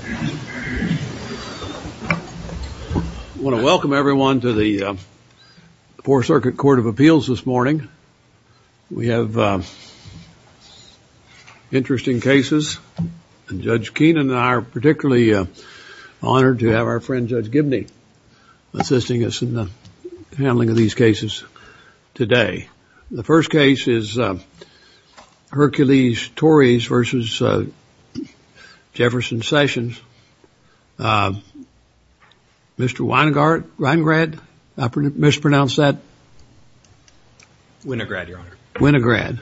I want to welcome everyone to the Fourth Circuit Court of Appeals this morning. We have interesting cases. Judge Keenan and I are particularly honored to have our friend Judge Gibney assisting us in the handling of these cases today. The first case is Hercules-Torres v. Jefferson Sessions. Mr. Winograd? I mispronounced that. Winograd, Your Honor. Winograd.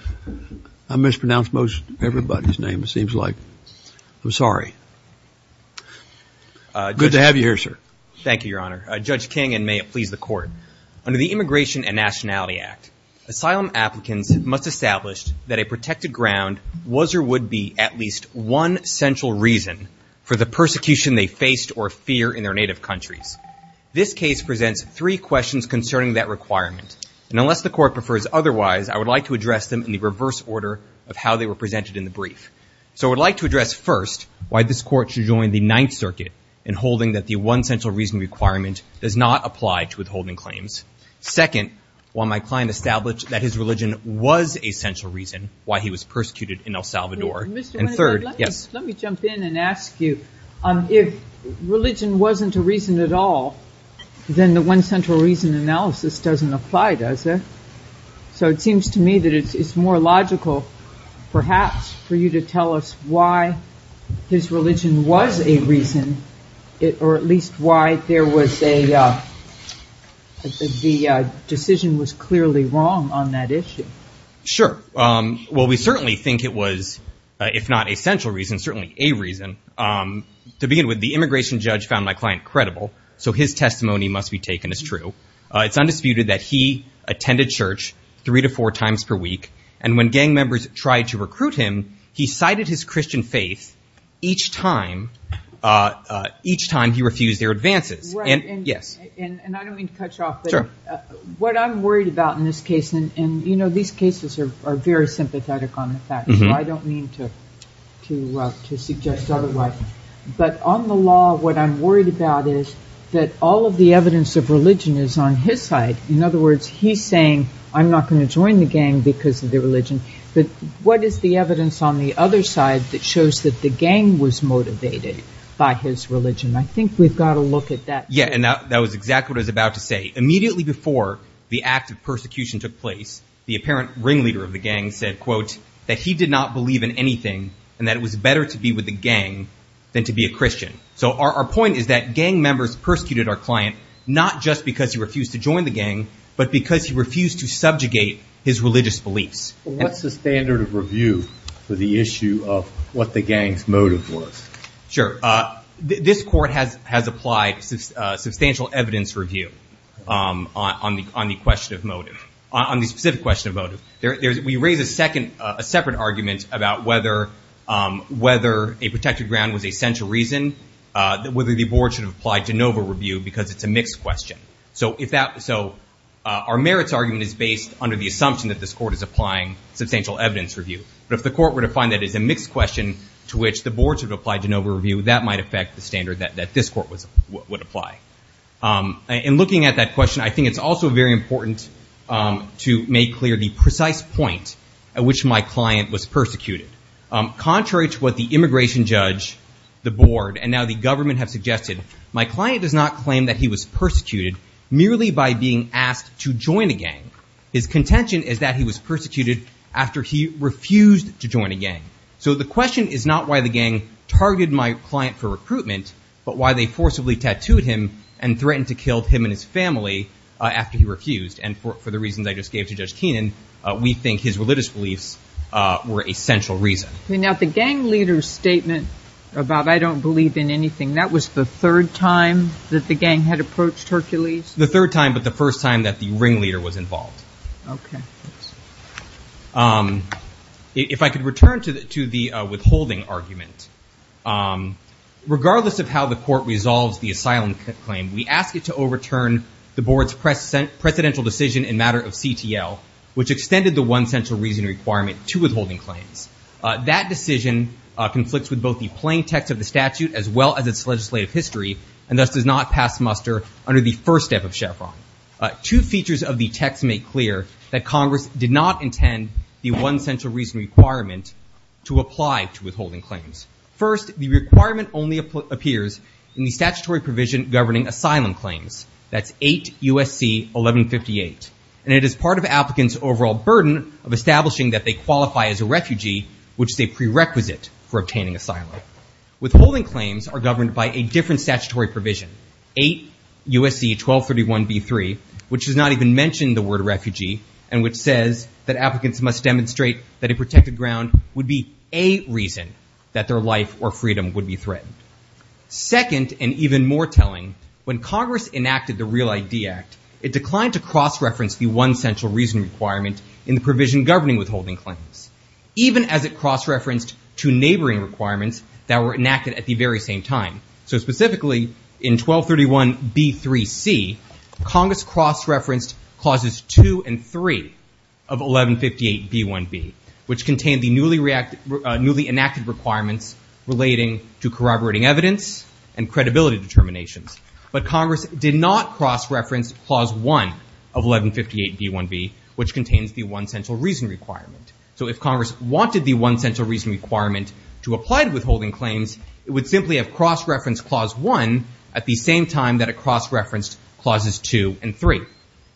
I mispronounced most everybody's name, it seems like. I'm sorry. Good to have you here, sir. Thank you, Your Honor. Judge Keenan, may it please the Court. Under the Immigration and Nationality Act, asylum applicants must establish that a protected ground was or would be at least one central reason for the persecution they faced or fear in their native countries. This case presents three questions concerning that requirement, and unless the Court prefers otherwise, I would like to address them in the reverse order of how they were presented in the brief. So I would like to address first why this Court should not approve the claims. Second, while my client established that his religion was a central reason why he was persecuted in El Salvador. Mr. Winograd, let me jump in and ask you. If religion wasn't a reason at all, then the one central reason analysis doesn't apply, does it? So it seems to me that it's more logical perhaps for you to tell us why his religion was a reason, or at least why the decision was clearly wrong on that issue. Sure. Well, we certainly think it was, if not a central reason, certainly a reason. To begin with, the immigration judge found my client credible, so his testimony must be taken as true. It's undisputed that he attended church three to four times per week, and when gang members tried to recruit him, he cited his Christian faith each time he refused their advances. And I don't mean to cut you off, but what I'm worried about in this case, and these cases are very sympathetic on the facts, so I don't mean to suggest otherwise. But on the law, what I'm worried about is that all of the evidence of religion is on his side. In other words, he's saying, I'm not going to join the gang because of their religion. But what is the evidence on the other side that shows that the gang was motivated by his religion? I think we've got to look at that. Yeah, and that was exactly what I was about to say. Immediately before the act of persecution took place, the apparent ringleader of the gang said, quote, that he did not believe in anything, and that it was better to be with the gang than to be a Christian. So our point is that gang members persecuted our client not just because he refused to join the gang, but because he refused to subjugate his religious beliefs. What's the standard of review for the issue of what the gang's motive was? Sure. This court has applied substantial evidence review on the question of motive, on the specific question of motive. We raise a separate argument about whether a protected ground was a central reason, whether the board should have applied Genova review, because it's a mixed question. So our merits argument is based under the assumption that this court is applying substantial evidence review. But if the court were to find that it's a mixed question to which the board should have applied Genova review, that might affect the standard that this court would apply. In looking at that question, I think it's also very important to make clear the precise point at which my client was persecuted. Contrary to what the immigration judge, the board, and now the government have suggested, my client does not claim that he was persecuted merely by being asked to join a gang. His contention is that he was persecuted after he refused to join a gang. So the question is not why the gang targeted my client for recruitment, but why they forcibly tattooed him and threatened to kill him. We think his religious beliefs were a central reason. Now the gang leader's statement about I don't believe in anything, that was the third time that the gang had approached Hercules? The third time, but the first time that the ringleader was involved. If I could return to the withholding argument, regardless of how the court resolves the asylum claim, we ask it to extend the one central reason requirement to withholding claims. That decision conflicts with both the plain text of the statute as well as its legislative history, and thus does not pass muster under the first step of Chevron. Two features of the text make clear that Congress did not intend the one central reason requirement to apply to withholding claims. First, the requirement only appears in the statutory provision governing asylum claims. That's 8 U.S.C. 1158, and it is part of applicants' overall burden of establishing that they qualify as a refugee, which is a prerequisite for obtaining asylum. Withholding claims are governed by a different statutory provision, 8 U.S.C. 1231b3, which does not even mention the word refugee, and which says that applicants must demonstrate that a protected ground would be a reason that their life or freedom would be threatened. Second, and even more telling, when Congress enacted the Real ID Act, it declined to cross-reference the one central reason requirement in the provision governing withholding claims, even as it cross-referenced two neighboring requirements that were enacted at the very same time. So specifically, in 1231b3c, Congress cross-referenced clauses 2 and 3 of 1158b1b, which contained the newly enacted requirements relating to corroborating evidence and credibility determinations. But Congress did not cross-reference clause 1 of 1158b1b, which contains the one central reason requirement. So if Congress wanted the one central reason requirement to apply to withholding claims, it would simply have cross-referenced clause 1 at the same time that it cross-referenced clauses 2 and 3.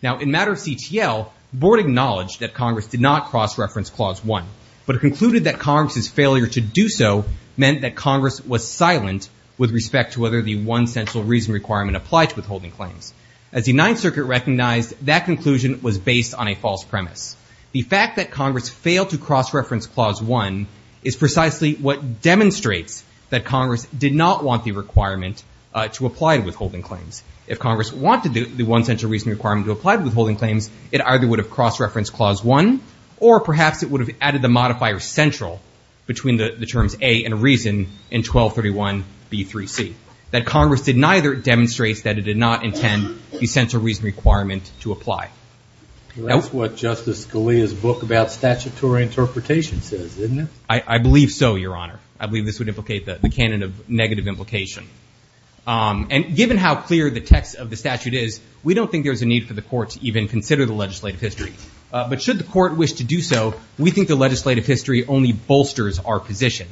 Now, in matter of CTL, board acknowledged that Congress did not cross-reference clause 1, but concluded that Congress's failure to do so meant that Congress was silent with respect to whether the one central reason requirement applied to withholding claims. As the Ninth Circuit recognized, that conclusion was based on a false premise. The fact that Congress failed to cross-reference clause 1 is precisely what demonstrates that Congress did not want the requirement to apply to withholding claims. If Congress wanted the one central reason requirement to apply to withholding claims, it either would have cross-referenced clause 1, or perhaps it would have added the modifier central between the terms A and reason in 1231b3c. That Congress did neither demonstrates that it did not intend the central reason requirement to apply. That's what Justice Scalia's book about statutory interpretation says, isn't it? I believe so, Your Honor. I believe this would implicate the canon of negative implication. And given how clear the text of the statute is, we don't think there's a need for the court to even consider the legislative history. But should the court wish to do so, we think the legislative history only bolsters our position.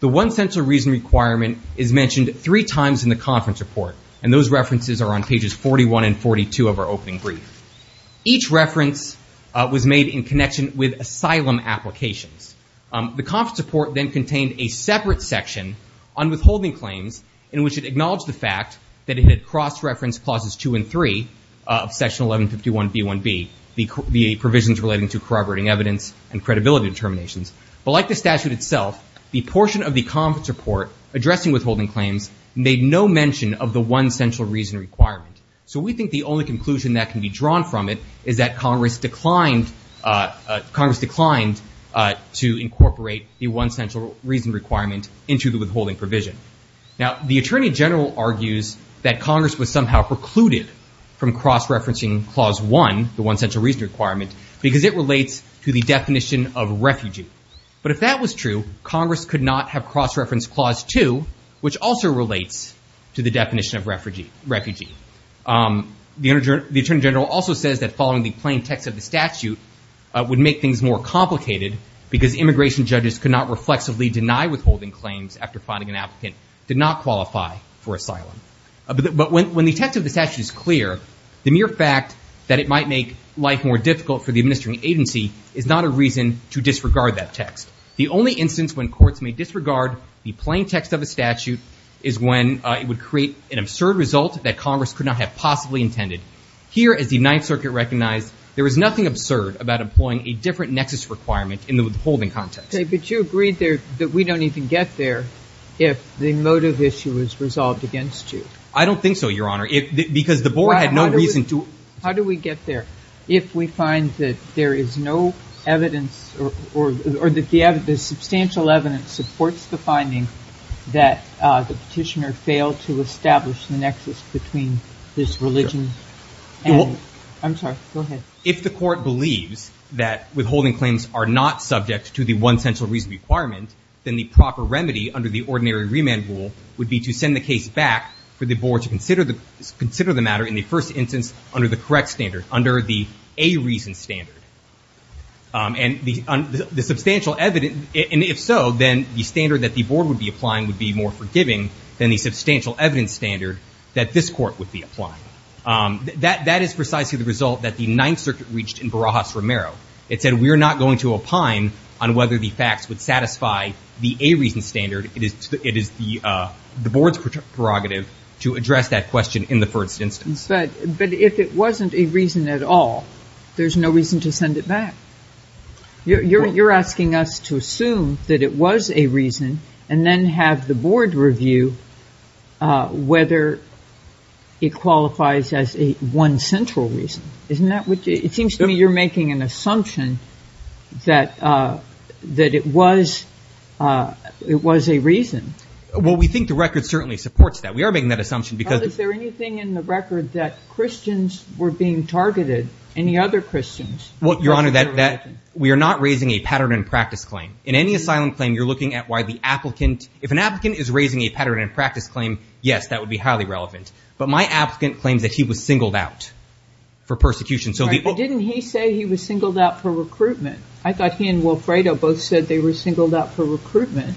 The one central reason requirement is mentioned three times in the conference report, and those references are on pages 41 and 42 of our opening brief. Each reference was made in connection with asylum applications. The conference report then contained a separate section on withholding claims in which it acknowledged the fact that it had cross-referenced clauses 2 and 3 of section 1151b1b, the provisions relating to corroborating evidence and credibility determinations. But like the statute itself, the portion of the conference report addressing withholding claims made no mention of the one central reason requirement. So we think the only conclusion that can be drawn from it is that Congress declined to incorporate the one central reason requirement into the withholding provision. Now, the Attorney General argues that Congress was somehow precluded from cross-referencing Clause 1, the one central reason requirement, because it relates to the definition of refugee. But if that was true, Congress could not have cross-referenced Clause 2, which also relates to the definition of refugee. The Attorney General also says that following the plain text of the statute would make things more complicated because immigration judges could not reflexively deny withholding claims after finding an applicant did not qualify for asylum. But when the text of the statute is clear, the mere fact that it might make life more difficult for the administering agency is not a reason to disregard that text. The only instance when courts may disregard the plain text of a statute is when it would create an absurd result that Congress could not have possibly intended. Here, as the Ninth Circuit recognized, there is nothing absurd about employing a different nexus requirement in the withholding context. But you agreed there that we don't even get there if the motive issue is resolved against you. I don't think so, Your Honor, because the Board had no reason to How do we get there if we find that there is no evidence or that the substantial evidence supports the finding that the petitioner failed to establish the nexus between his religion and I'm sorry, go ahead. If the Court believes that withholding claims are not subject to the one central reason requirement, then the proper remedy under the ordinary remand rule would be to send the case back for the Board to consider the matter in the first instance under the correct standard, under the a reason standard. And the substantial evidence, and if so, then the standard that the Board would be applying would be more forgiving than the substantial evidence standard that this Court would be applying. That is precisely the result that the Ninth Circuit reached in Barajas-Romero. It said we are not going to opine on whether the facts would satisfy the a reason standard. It is the Board's prerogative to address that question in the first instance. But if it wasn't a reason at all, there's no reason to send it back. You're asking us to assume that it was a reason and then have the Board review whether it qualifies as a one central reason. Isn't that what you, it seems to me you're making an assumption that it was a reason. Well, we think the record certainly supports that. We are making that assumption because. But is there anything in the record that Christians were being targeted, any other Christians? Well, Your Honor, we are not raising a pattern and practice claim. In any asylum claim, you're looking at why the applicant, if an applicant is raising a pattern and practice claim, yes, that would be highly relevant. But my applicant claims that he was singled out for persecution. So didn't he say he was singled out for recruitment? I thought he and Wilfredo both said they were singled out for recruitment.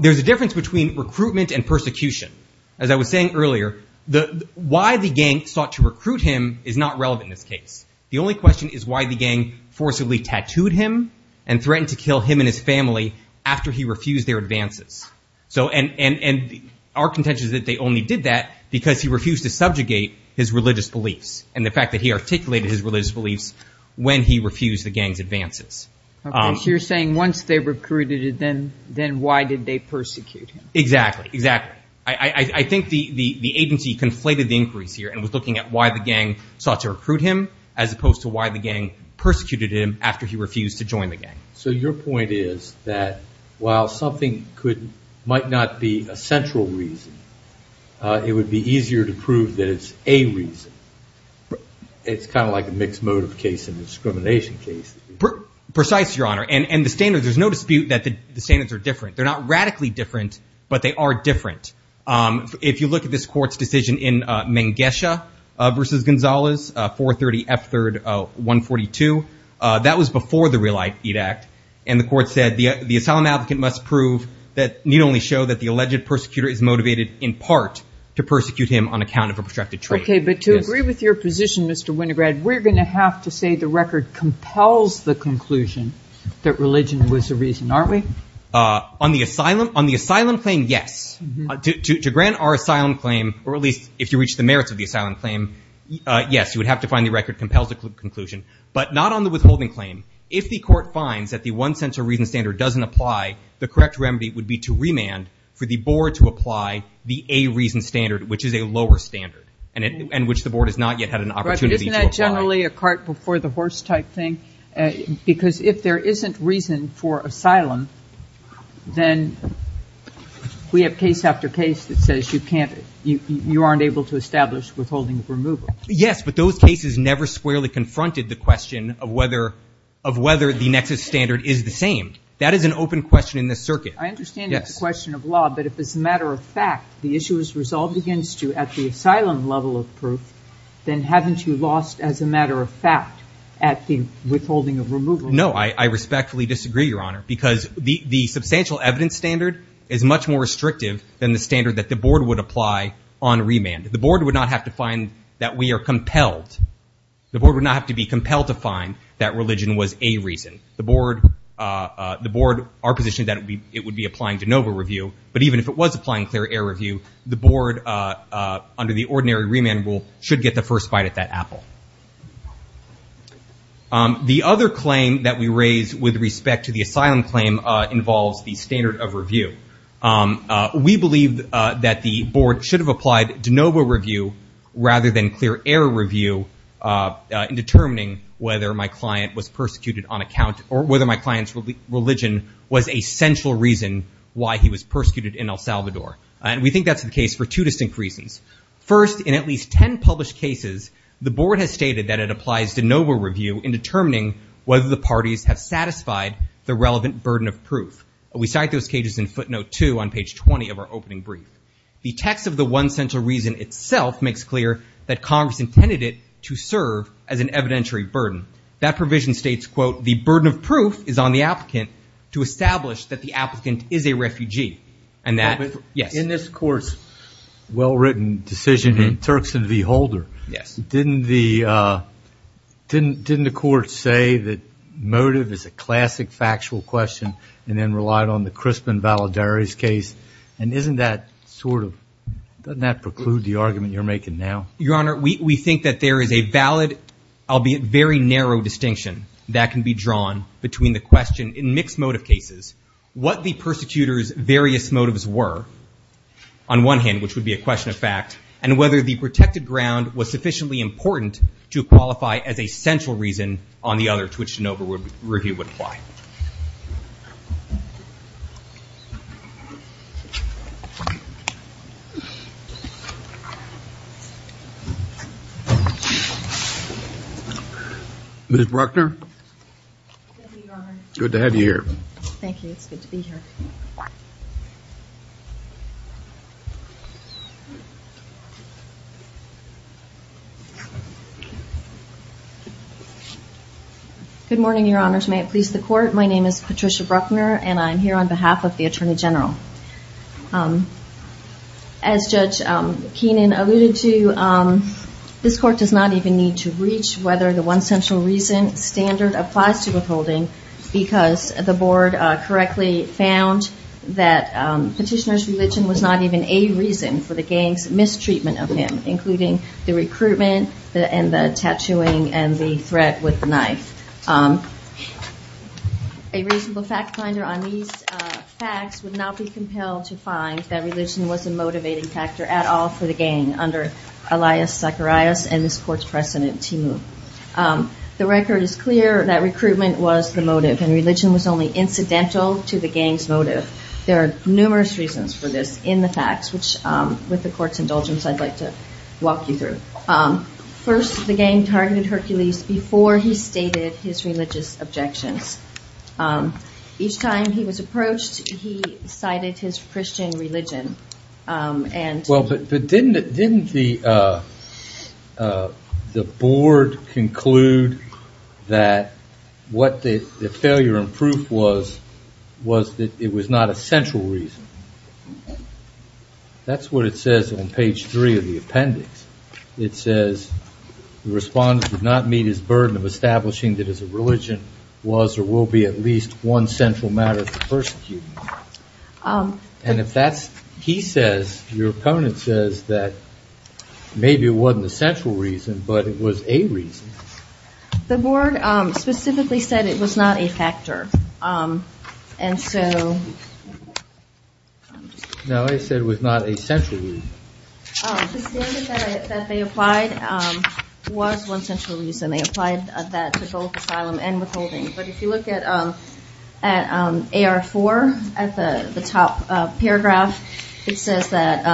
There's a difference between recruitment and persecution. As I was saying earlier, why the gang sought to recruit him is not relevant in this case. The only question is why the gang forcibly tattooed him and threatened to kill him and his family after he refused their advances. And our contention is that they only did that because he refused to subjugate his religious beliefs and the fact that he articulated his religious beliefs when he refused the gang's advances. So you're saying once they recruited him, then why did they persecute him? Exactly. Exactly. I think the agency conflated the inquiries here and was looking at why the gang sought to recruit him as opposed to why the gang persecuted him after he refused to join the gang. So your point is that while something could might not be a central reason, it would be easier to prove that it's a reason. It's kind of like a mixed motive case and discrimination case. Precise, Your Honor. And the standards, there's no dispute that the standards are different. They're not radically different, but they are different. If you look at this court's decision in Mengesha versus Gonzalez, 430 F3rd 142, that was before the Real Aid Act. And the court said the asylum applicant must prove that need only show that the alleged persecutor is motivated in part to persecute him on account of obstructed trade. But to agree with your position, Mr. Winograd, we're going to have to say the record compels the conclusion that religion was the reason, aren't we? On the asylum claim, yes. To grant our asylum claim, or at least if you reach the merits of the asylum claim, yes, you would have to find the record compels the conclusion. But not on the withholding claim. If the court finds that the one central reason standard doesn't apply, the correct remedy would be to remand for the board to apply the A reason standard, which is a lower standard and which the board has not yet had an opportunity to apply. Is it generally a cart before the horse type thing? Because if there isn't reason for asylum, then we have case after case that says you can't, you aren't able to establish withholding of removal. Yes, but those cases never squarely confronted the question of whether the nexus standard is the same. That is an open question in this circuit. I understand the question of law, but if it's a matter of fact the issue is resolved against you at the asylum level of proof, then haven't you lost as a matter of fact at the withholding of removal? No, I respectfully disagree, Your Honor, because the substantial evidence standard is much more restrictive than the standard that the board would apply on remand. The board would not have to find that we are compelled. The board would not have to be compelled to find that religion was a reason. The board, our position is that it would be applying de novo review, but even if it was applying clear error review, the board, under the ordinary remand rule, should get the first bite at that apple. The other claim that we raise with respect to the asylum claim involves the standard of review. We believe that the board should have applied de novo review rather than clear error review in determining whether my client was persecuted on account or whether my client's religion was a central reason why he was persecuted in El Salvador. And we think that's the case for two distinct reasons. First, in at least 10 published cases, the board has stated that it applies de novo review in determining whether the parties have satisfied the relevant burden of proof. We cite those cases in footnote two on page 20 of our opening brief. The text of the one central reason itself makes clear that Congress intended it to serve as an evidentiary burden. That provision states, quote, the burden of proof is on the applicant to establish that the applicant is a refugee. And that, yes. In this court's well-written decision in Turkson v. Holder, didn't the court say that motive is a classic factual question and then relied on the Crispin-Valadares case? And isn't that sort of, doesn't that preclude the argument you're making now? Your Honor, we think that there is a valid, albeit very narrow distinction that can be drawn between the question in mixed motive cases, what the persecutors' various motives were, on one hand, which would be a question of fact, and whether the protected ground was sufficiently important to qualify as a central reason on the other to which de novo review would apply. Ms. Bruckner? Good to have you here. Good morning, Your Honors. May it please the Court. My name is Patricia Bruckner, and I'm here on behalf of the Attorney General. As Judge Keenan alluded to, this Court does not even need to reach whether the one central reason standard applies to withholding because the Board correctly found that petitioner's religion was not even a reason for the gang's mistreatment of him, including the recruitment and the tattooing and the threat with the knife. A reasonable fact finder on these facts would not be compelled to find that religion was a motivating factor at all for the gang under Elias Zacharias and this Court's precedent, Timu. The record is clear that recruitment was the motive, and religion was only incidental to the gang's motive. There are numerous reasons for this in the facts, which, with the Court's indulgence, I'd like to walk you through. First, the gang targeted Hercules before he stated his religious objections. Each time he was approached, he cited his Christian religion. Well, but didn't the Board conclude that what the failure in proof was, that it was not a central reason? That's what it says on page three of the appendix. It says the respondent did not meet his burden of establishing that his religion was or will be at least one central matter for persecuting him. And if that's what he says, your opponent says that maybe it wasn't a central reason, but it was a reason. The Board specifically said it was not a factor. No, it said it was not a central reason. The standard that they applied was one central reason. They applied that to both asylum and withholding. But if you look at AR4, at the top paragraph, it says that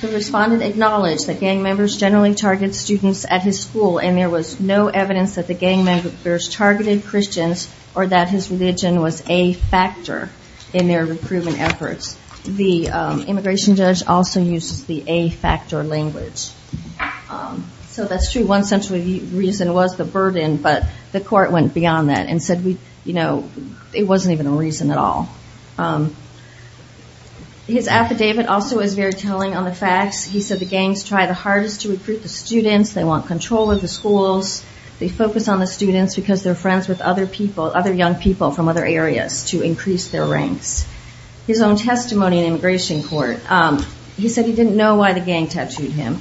the respondent acknowledged that gang members generally target students at his school, and there was no evidence that the gang members targeted Christians or that his religion was a factor in their recruitment efforts. The immigration judge also uses the a-factor language. So that's true, one central reason was the burden, but the Court went beyond that and said it wasn't even a reason at all. His affidavit also is very telling on the facts. He said the gangs try the hardest to recruit the students, they want control of the schools, they focus on the students because they're friends with other people, other young people from other areas to increase their ranks. His own testimony in immigration court, he said he didn't know why the gang tattooed him.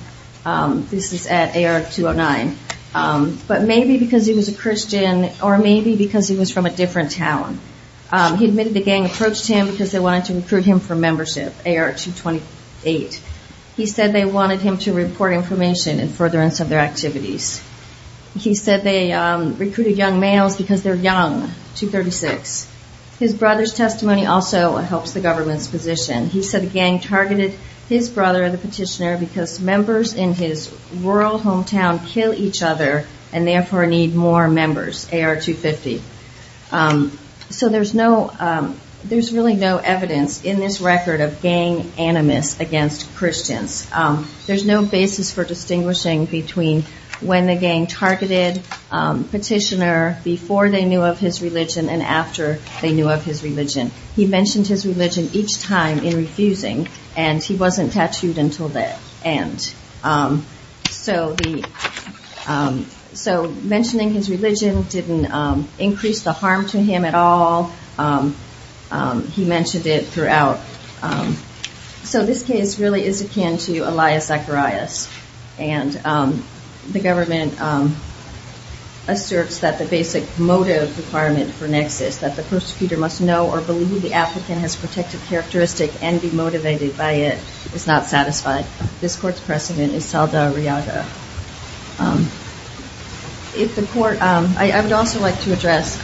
This is at AR209. But maybe because he was a Christian or maybe because he was from a different town. He admitted the gang approached him because they wanted to recruit him for membership, AR228. He said they wanted him to report information in furtherance of their activities. He said they recruited young males because they're young, 236. His brother's testimony also helps the government's position. He said the gang targeted his brother, the petitioner, because members in his rural hometown kill each other and therefore need more members, AR250. So there's really no evidence in this record of gang animus against Christians. There's no basis for distinguishing between when the gang targeted petitioner, before they knew of his religion and after they knew of his religion. He mentioned his religion each time in refusing and he wasn't tattooed until the end. So mentioning his religion didn't increase the harm to him at all. He mentioned it throughout. So this case really is akin to Elias Zacharias. And the government asserts that the basic motive requirement for nexus, that the persecutor must know or believe the applicant has protective characteristic and be motivated by it, is not satisfied. This court's precedent is Saldarriaga. I would also like to address the petitioner's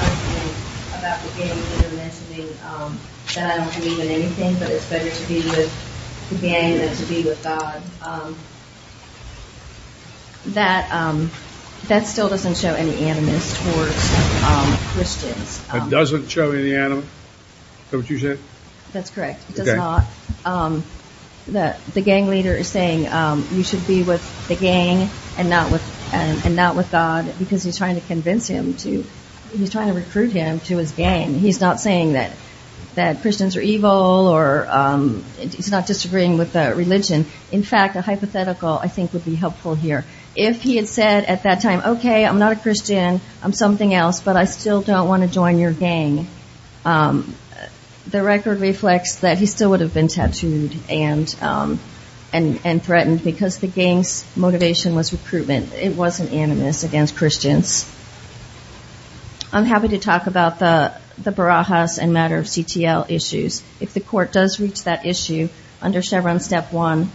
argument about the gang. The petitioner mentioned that I don't believe in anything, but it's better to be with the gang than to be with God. That still doesn't show any animus towards Christians. It doesn't show any animus? Is that what you said? That's correct. It does not. The gang leader is saying you should be with the gang and not with God, because he's trying to convince him to, he's trying to recruit him to his gang. He's not saying that Christians are evil or he's not disagreeing with the religion. In fact, a hypothetical, I think, would be helpful here. If he had said at that time, okay, I'm not a Christian, I'm something else, but I still don't want to join your gang, the record reflects that he still would have been tattooed and threatened, because the gang's motivation was recruitment. It wasn't animus against Christians. I'm happy to talk about the Barajas and matter of CTL issues. If the court does reach that issue under Chevron Step 1,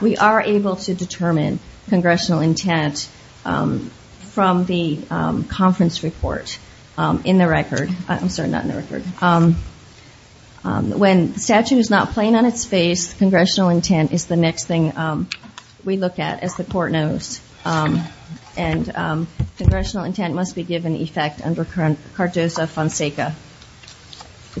we are able to determine congressional intent from the conference report in the record. I'm sorry, not in the record. When the statute is not plain on its face, congressional intent is the next thing we look at, as the court knows. And congressional intent must be given effect under cartosa fonseca.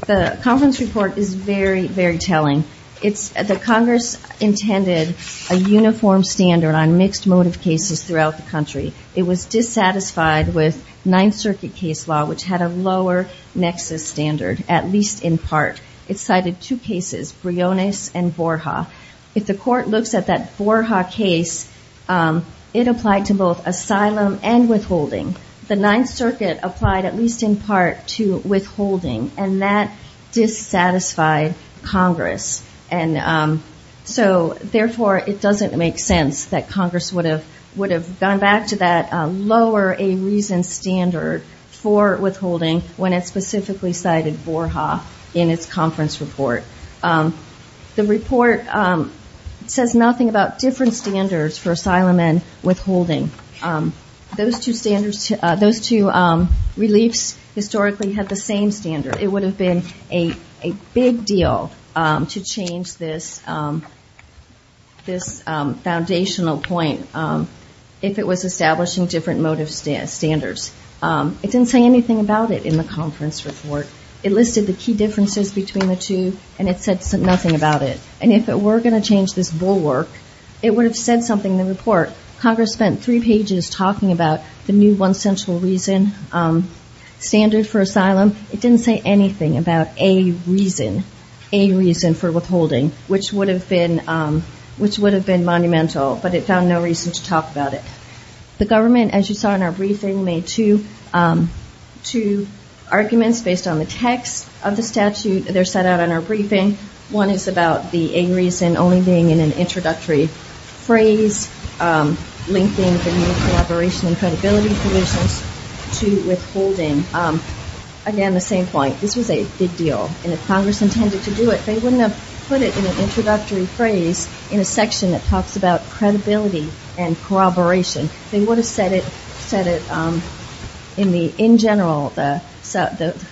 The conference report is very, very telling. The Congress intended a uniform standard on mixed motive cases throughout the country. It was dissatisfied with Ninth Circuit case law, which had a lower nexus standard, at least in part. It cited two cases, Briones and Borja. If the court looks at that Borja case, it applied to both asylum and withholding. The Ninth Circuit applied at least in part to withholding. And that dissatisfied Congress. And so, therefore, it doesn't make sense that Congress would have gone back to that lower a reason standard for withholding when it specifically cited Borja in its conference report. The report says nothing about different standards for asylum and withholding. Those two reliefs historically had the same standard. It would have been a big deal to change this foundational point if it was establishing different motive standards. It didn't say anything about it in the conference report. It listed the key differences between the two, and it said nothing about it. And if it were going to change this bulwark, it would have said something in the report. Congress spent three pages talking about the new one central reason standard for asylum. It didn't say anything about a reason, a reason for withholding, which would have been monumental, but it found no reason to talk about it. The government, as you saw in our briefing, made two arguments based on the text of the statute that are set out in our briefing. One is about the a reason only being in an introductory phrase, linking the new collaboration and credibility provisions to withholding. Again, the same point, this was a big deal. And if Congress intended to do it, they wouldn't have put it in an introductory phrase in a section that talks about credibility and corroboration. They would have said it in general, the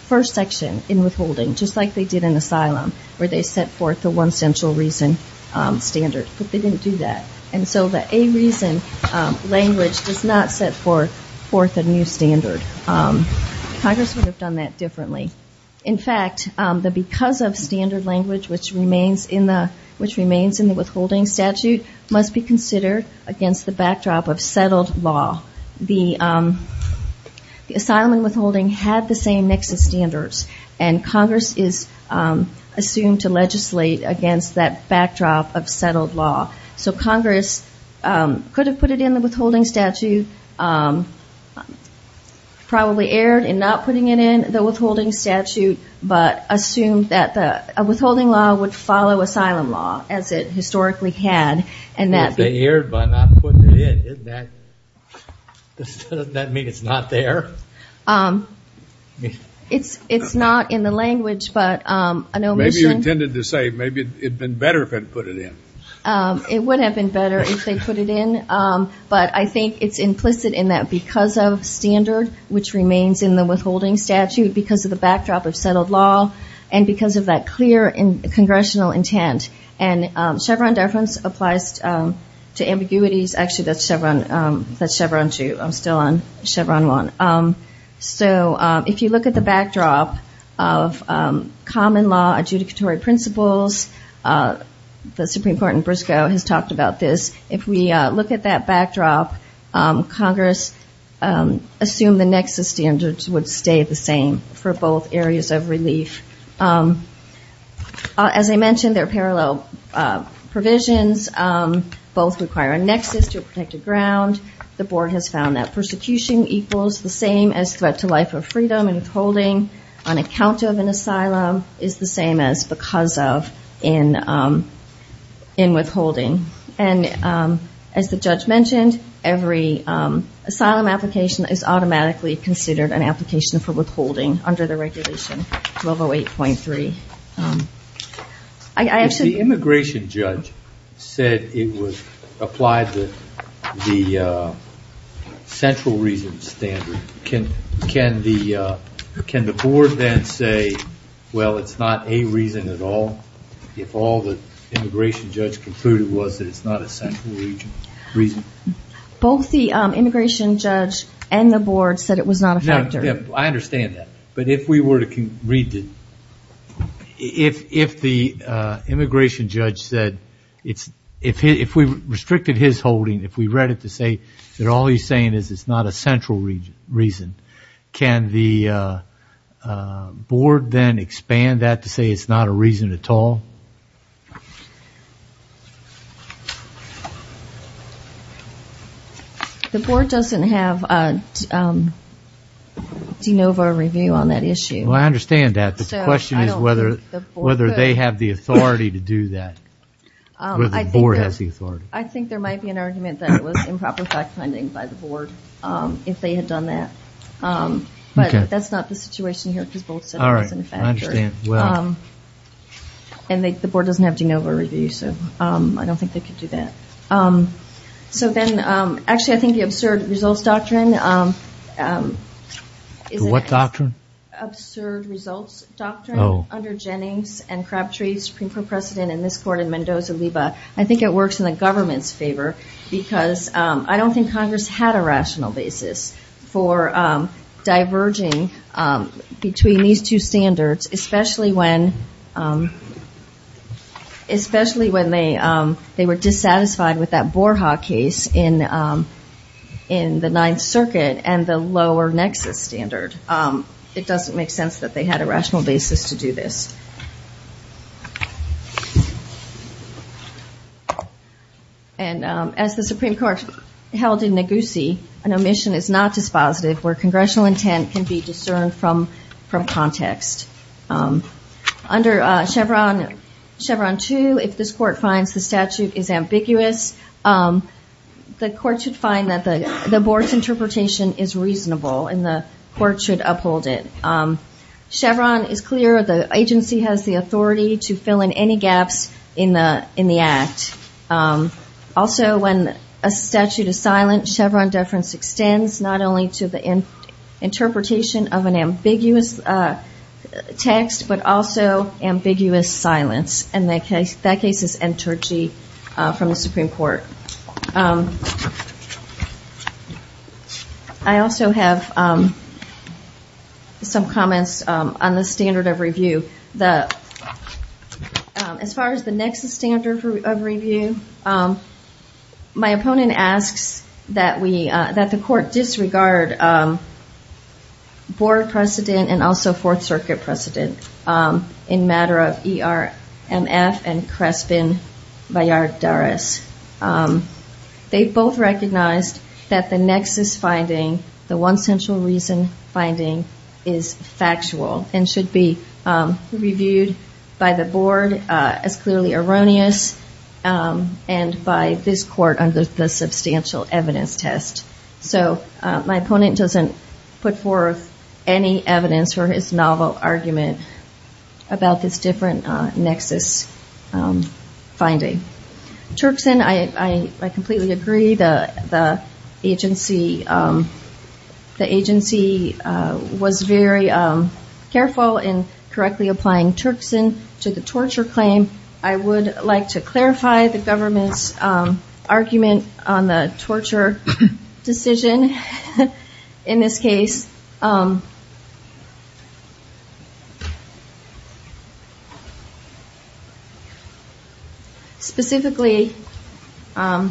first section, in withholding, just like they did in asylum, where they would have said it in the first section. They set forth the one central reason standard, but they didn't do that. And so the a reason language does not set forth a new standard. Congress would have done that differently. In fact, the because of standard language, which remains in the withholding statute, must be considered against the backdrop of settled law. The asylum and withholding had the same nexus standards. And Congress is assumed to legislate against that backdrop of settled law. So Congress could have put it in the withholding statute, probably erred in not putting it in the withholding statute, but assumed that the withholding law would follow asylum law, as it historically had. And that they erred by not putting it in. Doesn't that mean it's not there? It's not in the language, but an omission. It would have been better if they put it in. But I think it's implicit in that because of standard, which remains in the withholding statute, because of the backdrop of settled law, and because of that clear congressional intent. And Chevron deference applies to ambiguities. Actually, that's Chevron 2. I'm still on Chevron 1. So if you look at the backdrop of common law adjudicatory principles, the Supreme Court in Briscoe has talked about this. If we look at that backdrop, Congress assumed the nexus standards would stay the same for both areas of relief. As I mentioned, they're parallel provisions. Both require a nexus to a protected ground. The board has found that persecution equals the same as threat to life or freedom and withholding on account of an asylum is the same as because of in withholding. And as the judge mentioned, every asylum application is automatically considered an application for withholding under the regulation 1208. The immigration judge said it was applied to the central reason standard. Can the board then say, well, it's not a reason at all, if all the immigration judge concluded was that it's not a central reason? Both the immigration judge and the board said it was not a factor. I understand that. If the immigration judge said, if we restricted his holding, if we read it to say that all he's saying is it's not a central reason, can the board then expand that to say it's not a reason at all? The board doesn't have a de novo review on that issue. I understand that. The question is whether they have the authority to do that. I think there might be an argument that it was improper fact finding by the board if they had done that. But that's not the situation here because both said it wasn't a factor. The board doesn't have de novo review, so I don't think they could do that. So then, actually, I think the absurd results doctrine. What doctrine? Absurd results doctrine under Jennings and Crabtree, Supreme Court precedent in this court and Mendoza-Liba. I think it works in the government's favor because I don't think Congress had a rational basis for diverging between these two standards, especially when they were dissatisfied with that Borja case in the Ninth Circuit and the lower nexus standard. It doesn't make sense that they had a rational basis to do this. And as the Supreme Court held in Neguse, an omission is not dispositive where congressional intent can be discerned from context. Under Chevron 2, if this court finds the statute is ambiguous, the court should find that the board's interpretation is reasonable and the court should uphold it. Chevron is clear the agency has the authority to fill in any gaps in the act. Also, when a statute is silent, Chevron deference extends not only to the interpretation of an ambiguous tag, but also ambiguous silence, and that case is N. Turchi from the Supreme Court. I also have some comments on the standard of review. As far as the nexus standard of review, my opponent asks that the court disregard board precedent and also Fourth Circuit precedent. They both recognized that the nexus finding, the one central reason finding, is factual and should be reviewed by the board as clearly erroneous and by this court under the substantial evidence test. So my opponent doesn't put forth any evidence for his novel argument about this different nexus finding. Turkson, I completely agree the agency was very careful in correctly applying Turkson to the torture claim. I would like to clarify the government's argument on the torture claim. The decision in this case, specifically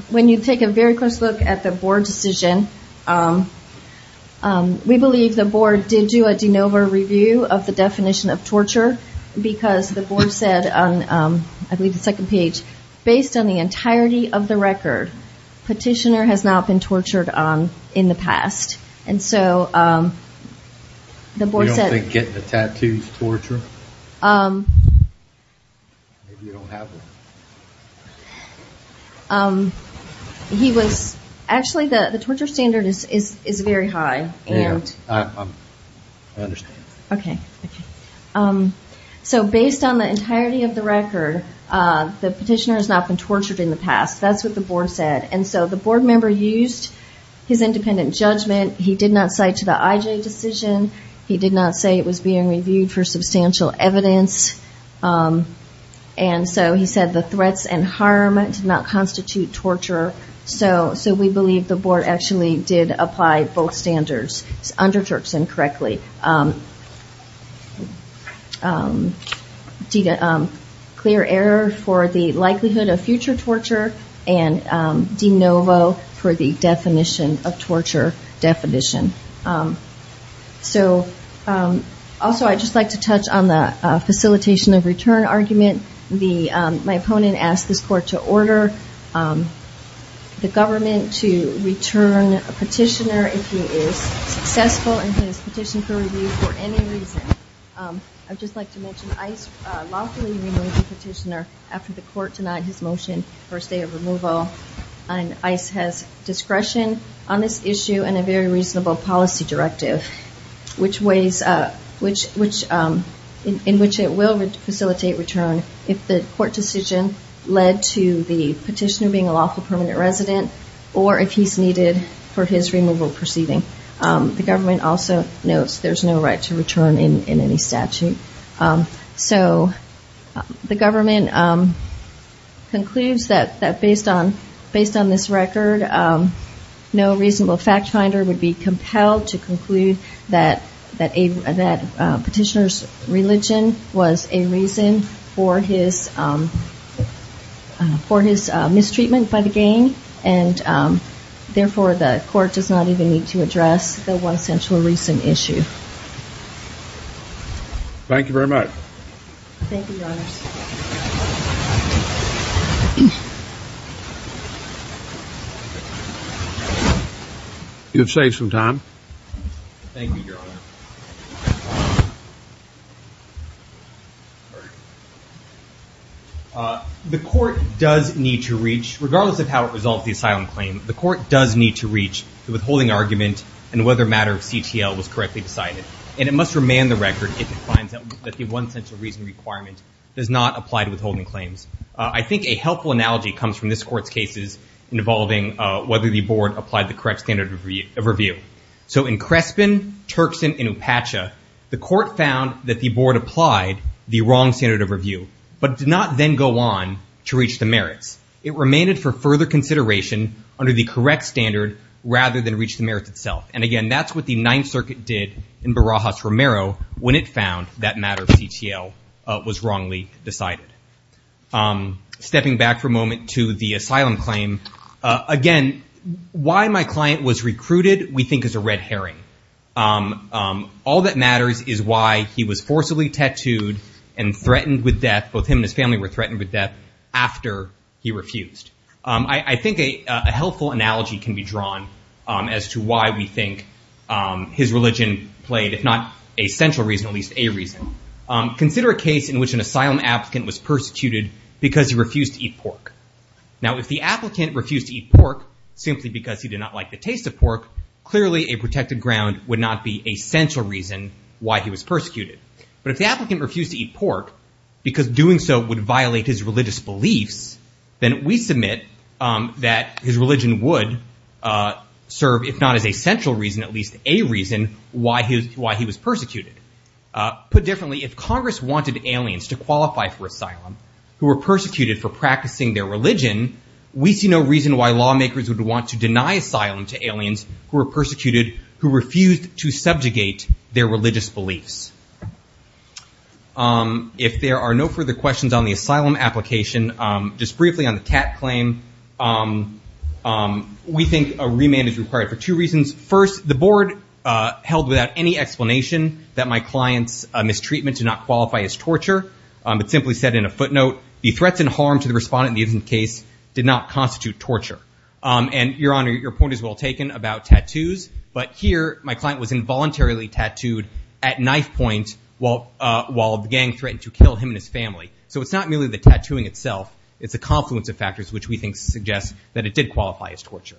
when you take a very close look at the board decision, we believe the board did do a de novo review of the definition of torture, because the board said on I believe the second page, based on the entirety of the record, petitioner has not been tortured in the past. Actually, the torture standard is very high. I understand. So based on the entirety of the record, the petitioner has not been tortured in the past. That's what the board said. He did not say it was being reviewed for substantial evidence. And so he said the threats and harm did not constitute torture. So we believe the board actually did apply both standards under Turkson correctly. Clear error for the likelihood of future torture and de novo for the definition of torture definition. Also, I'd just like to touch on the facilitation of return argument. My opponent asked this court to order the government to return a petitioner if he is successful in his petition for review for any reason. I'd just like to mention ICE lawfully removed the petitioner after the court denied his motion for a stay of removal. ICE has discretion on this issue and a very reasonable policy directive, in which it will facilitate return if the court decision led to the petitioner being a lawful permanent resident, or if he's needed for his removal proceeding. The government also notes there's no right to return in any statute. So the government concludes that based on this record, no reasonable fact finder would be compelled to conclude that petitioner's religion was a reason for his mistreatment by the gang, and therefore the court does not even need to address the one central reason issue. Thank you very much. Thank you, Your Honor. You have saved some time. The court does need to reach, regardless of how it resolved the asylum claim, the court does need to reach the withholding argument and whether a matter of CTL was correctly decided. And it must remain the record if it finds that the one central reason requirement does not apply to withholding claims. I think a helpful analogy comes from this court's cases involving whether the board applied the correct standard of review. So in Crespin, Turkson, and Upacha, the court found that the board applied the wrong standard of review, but did not then go on to reach the merits. It remained for further consideration under the correct standard rather than reach the merits itself. And again, that's what the Ninth Circuit did in Barajas-Romero when it found that matter of CTL was wrongly decided. Stepping back for a moment to the asylum claim, again, why my client was recruited we think is a red herring. All that matters is why he was forcibly tattooed and threatened with death, both him and his family were threatened with death after he refused. I think a helpful analogy can be drawn as to why we think his religion played, if not a central reason, at least a reason. Consider a case in which an asylum applicant was persecuted because he refused to eat pork. Now, if the applicant refused to eat pork simply because he did not like the taste of pork, clearly a protected ground would not be a central reason why he was persecuted. But if the applicant refused to eat pork because doing so would violate his religious beliefs, then we submit that his religion would serve, if not as a central reason, at least a reason why he was persecuted. Put differently, if Congress wanted aliens to qualify for asylum who were persecuted for practicing their religion, we see no reason why lawmakers would want to deny asylum to aliens who were persecuted who refused to subjugate their religious beliefs. If there are no further questions on the asylum application, just briefly on the cat claim, we think a remand is required for two reasons. First, the board held without any explanation that my client's mistreatment did not qualify as torture, but simply said in a footnote, the threats and harm to the respondent in the incident case did not constitute torture. And, Your Honor, your point is well taken about tattoos, but here my client was involuntarily tattooed at knife point while the gang threatened to kill him and his family. So it's not merely the tattooing itself, it's the confluence of factors which we think suggests that it did qualify as torture.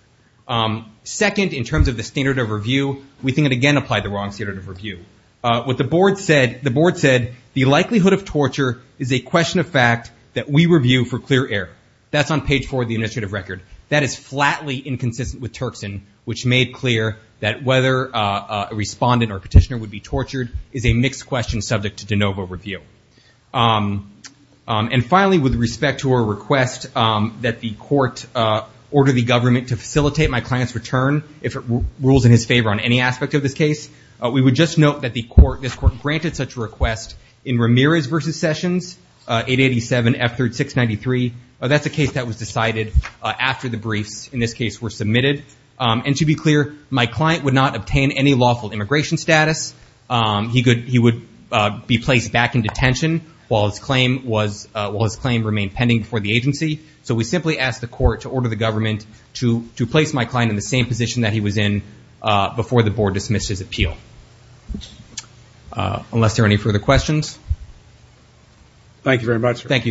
Second, in terms of the standard of review, we think it again applied the wrong standard of review. What the board said, the board said the likelihood of torture is a question of fact that we review for clear error. That's on page four of the administrative record. That is flatly inconsistent with Turkson, which made clear that whether a respondent or petitioner would be tortured is a mixed question subject to de novo review. And finally, with respect to our request that the court order the government to facilitate my client's return, if it rules in his favor on any aspect of this case, we would just note that the court, this court granted such a request in Ramirez v. Sessions, 887F3693. That's a case that was decided after the briefs in this case were submitted. And to be clear, my client would not obtain any lawful immigration status. He would be placed back in detention while his claim remained pending before the agency. So we simply ask the court to order the government to place my client in the same position that he was in before the board dismissed his appeal. Unless there are any further questions. Thank you very much. Thank you, Your Honor.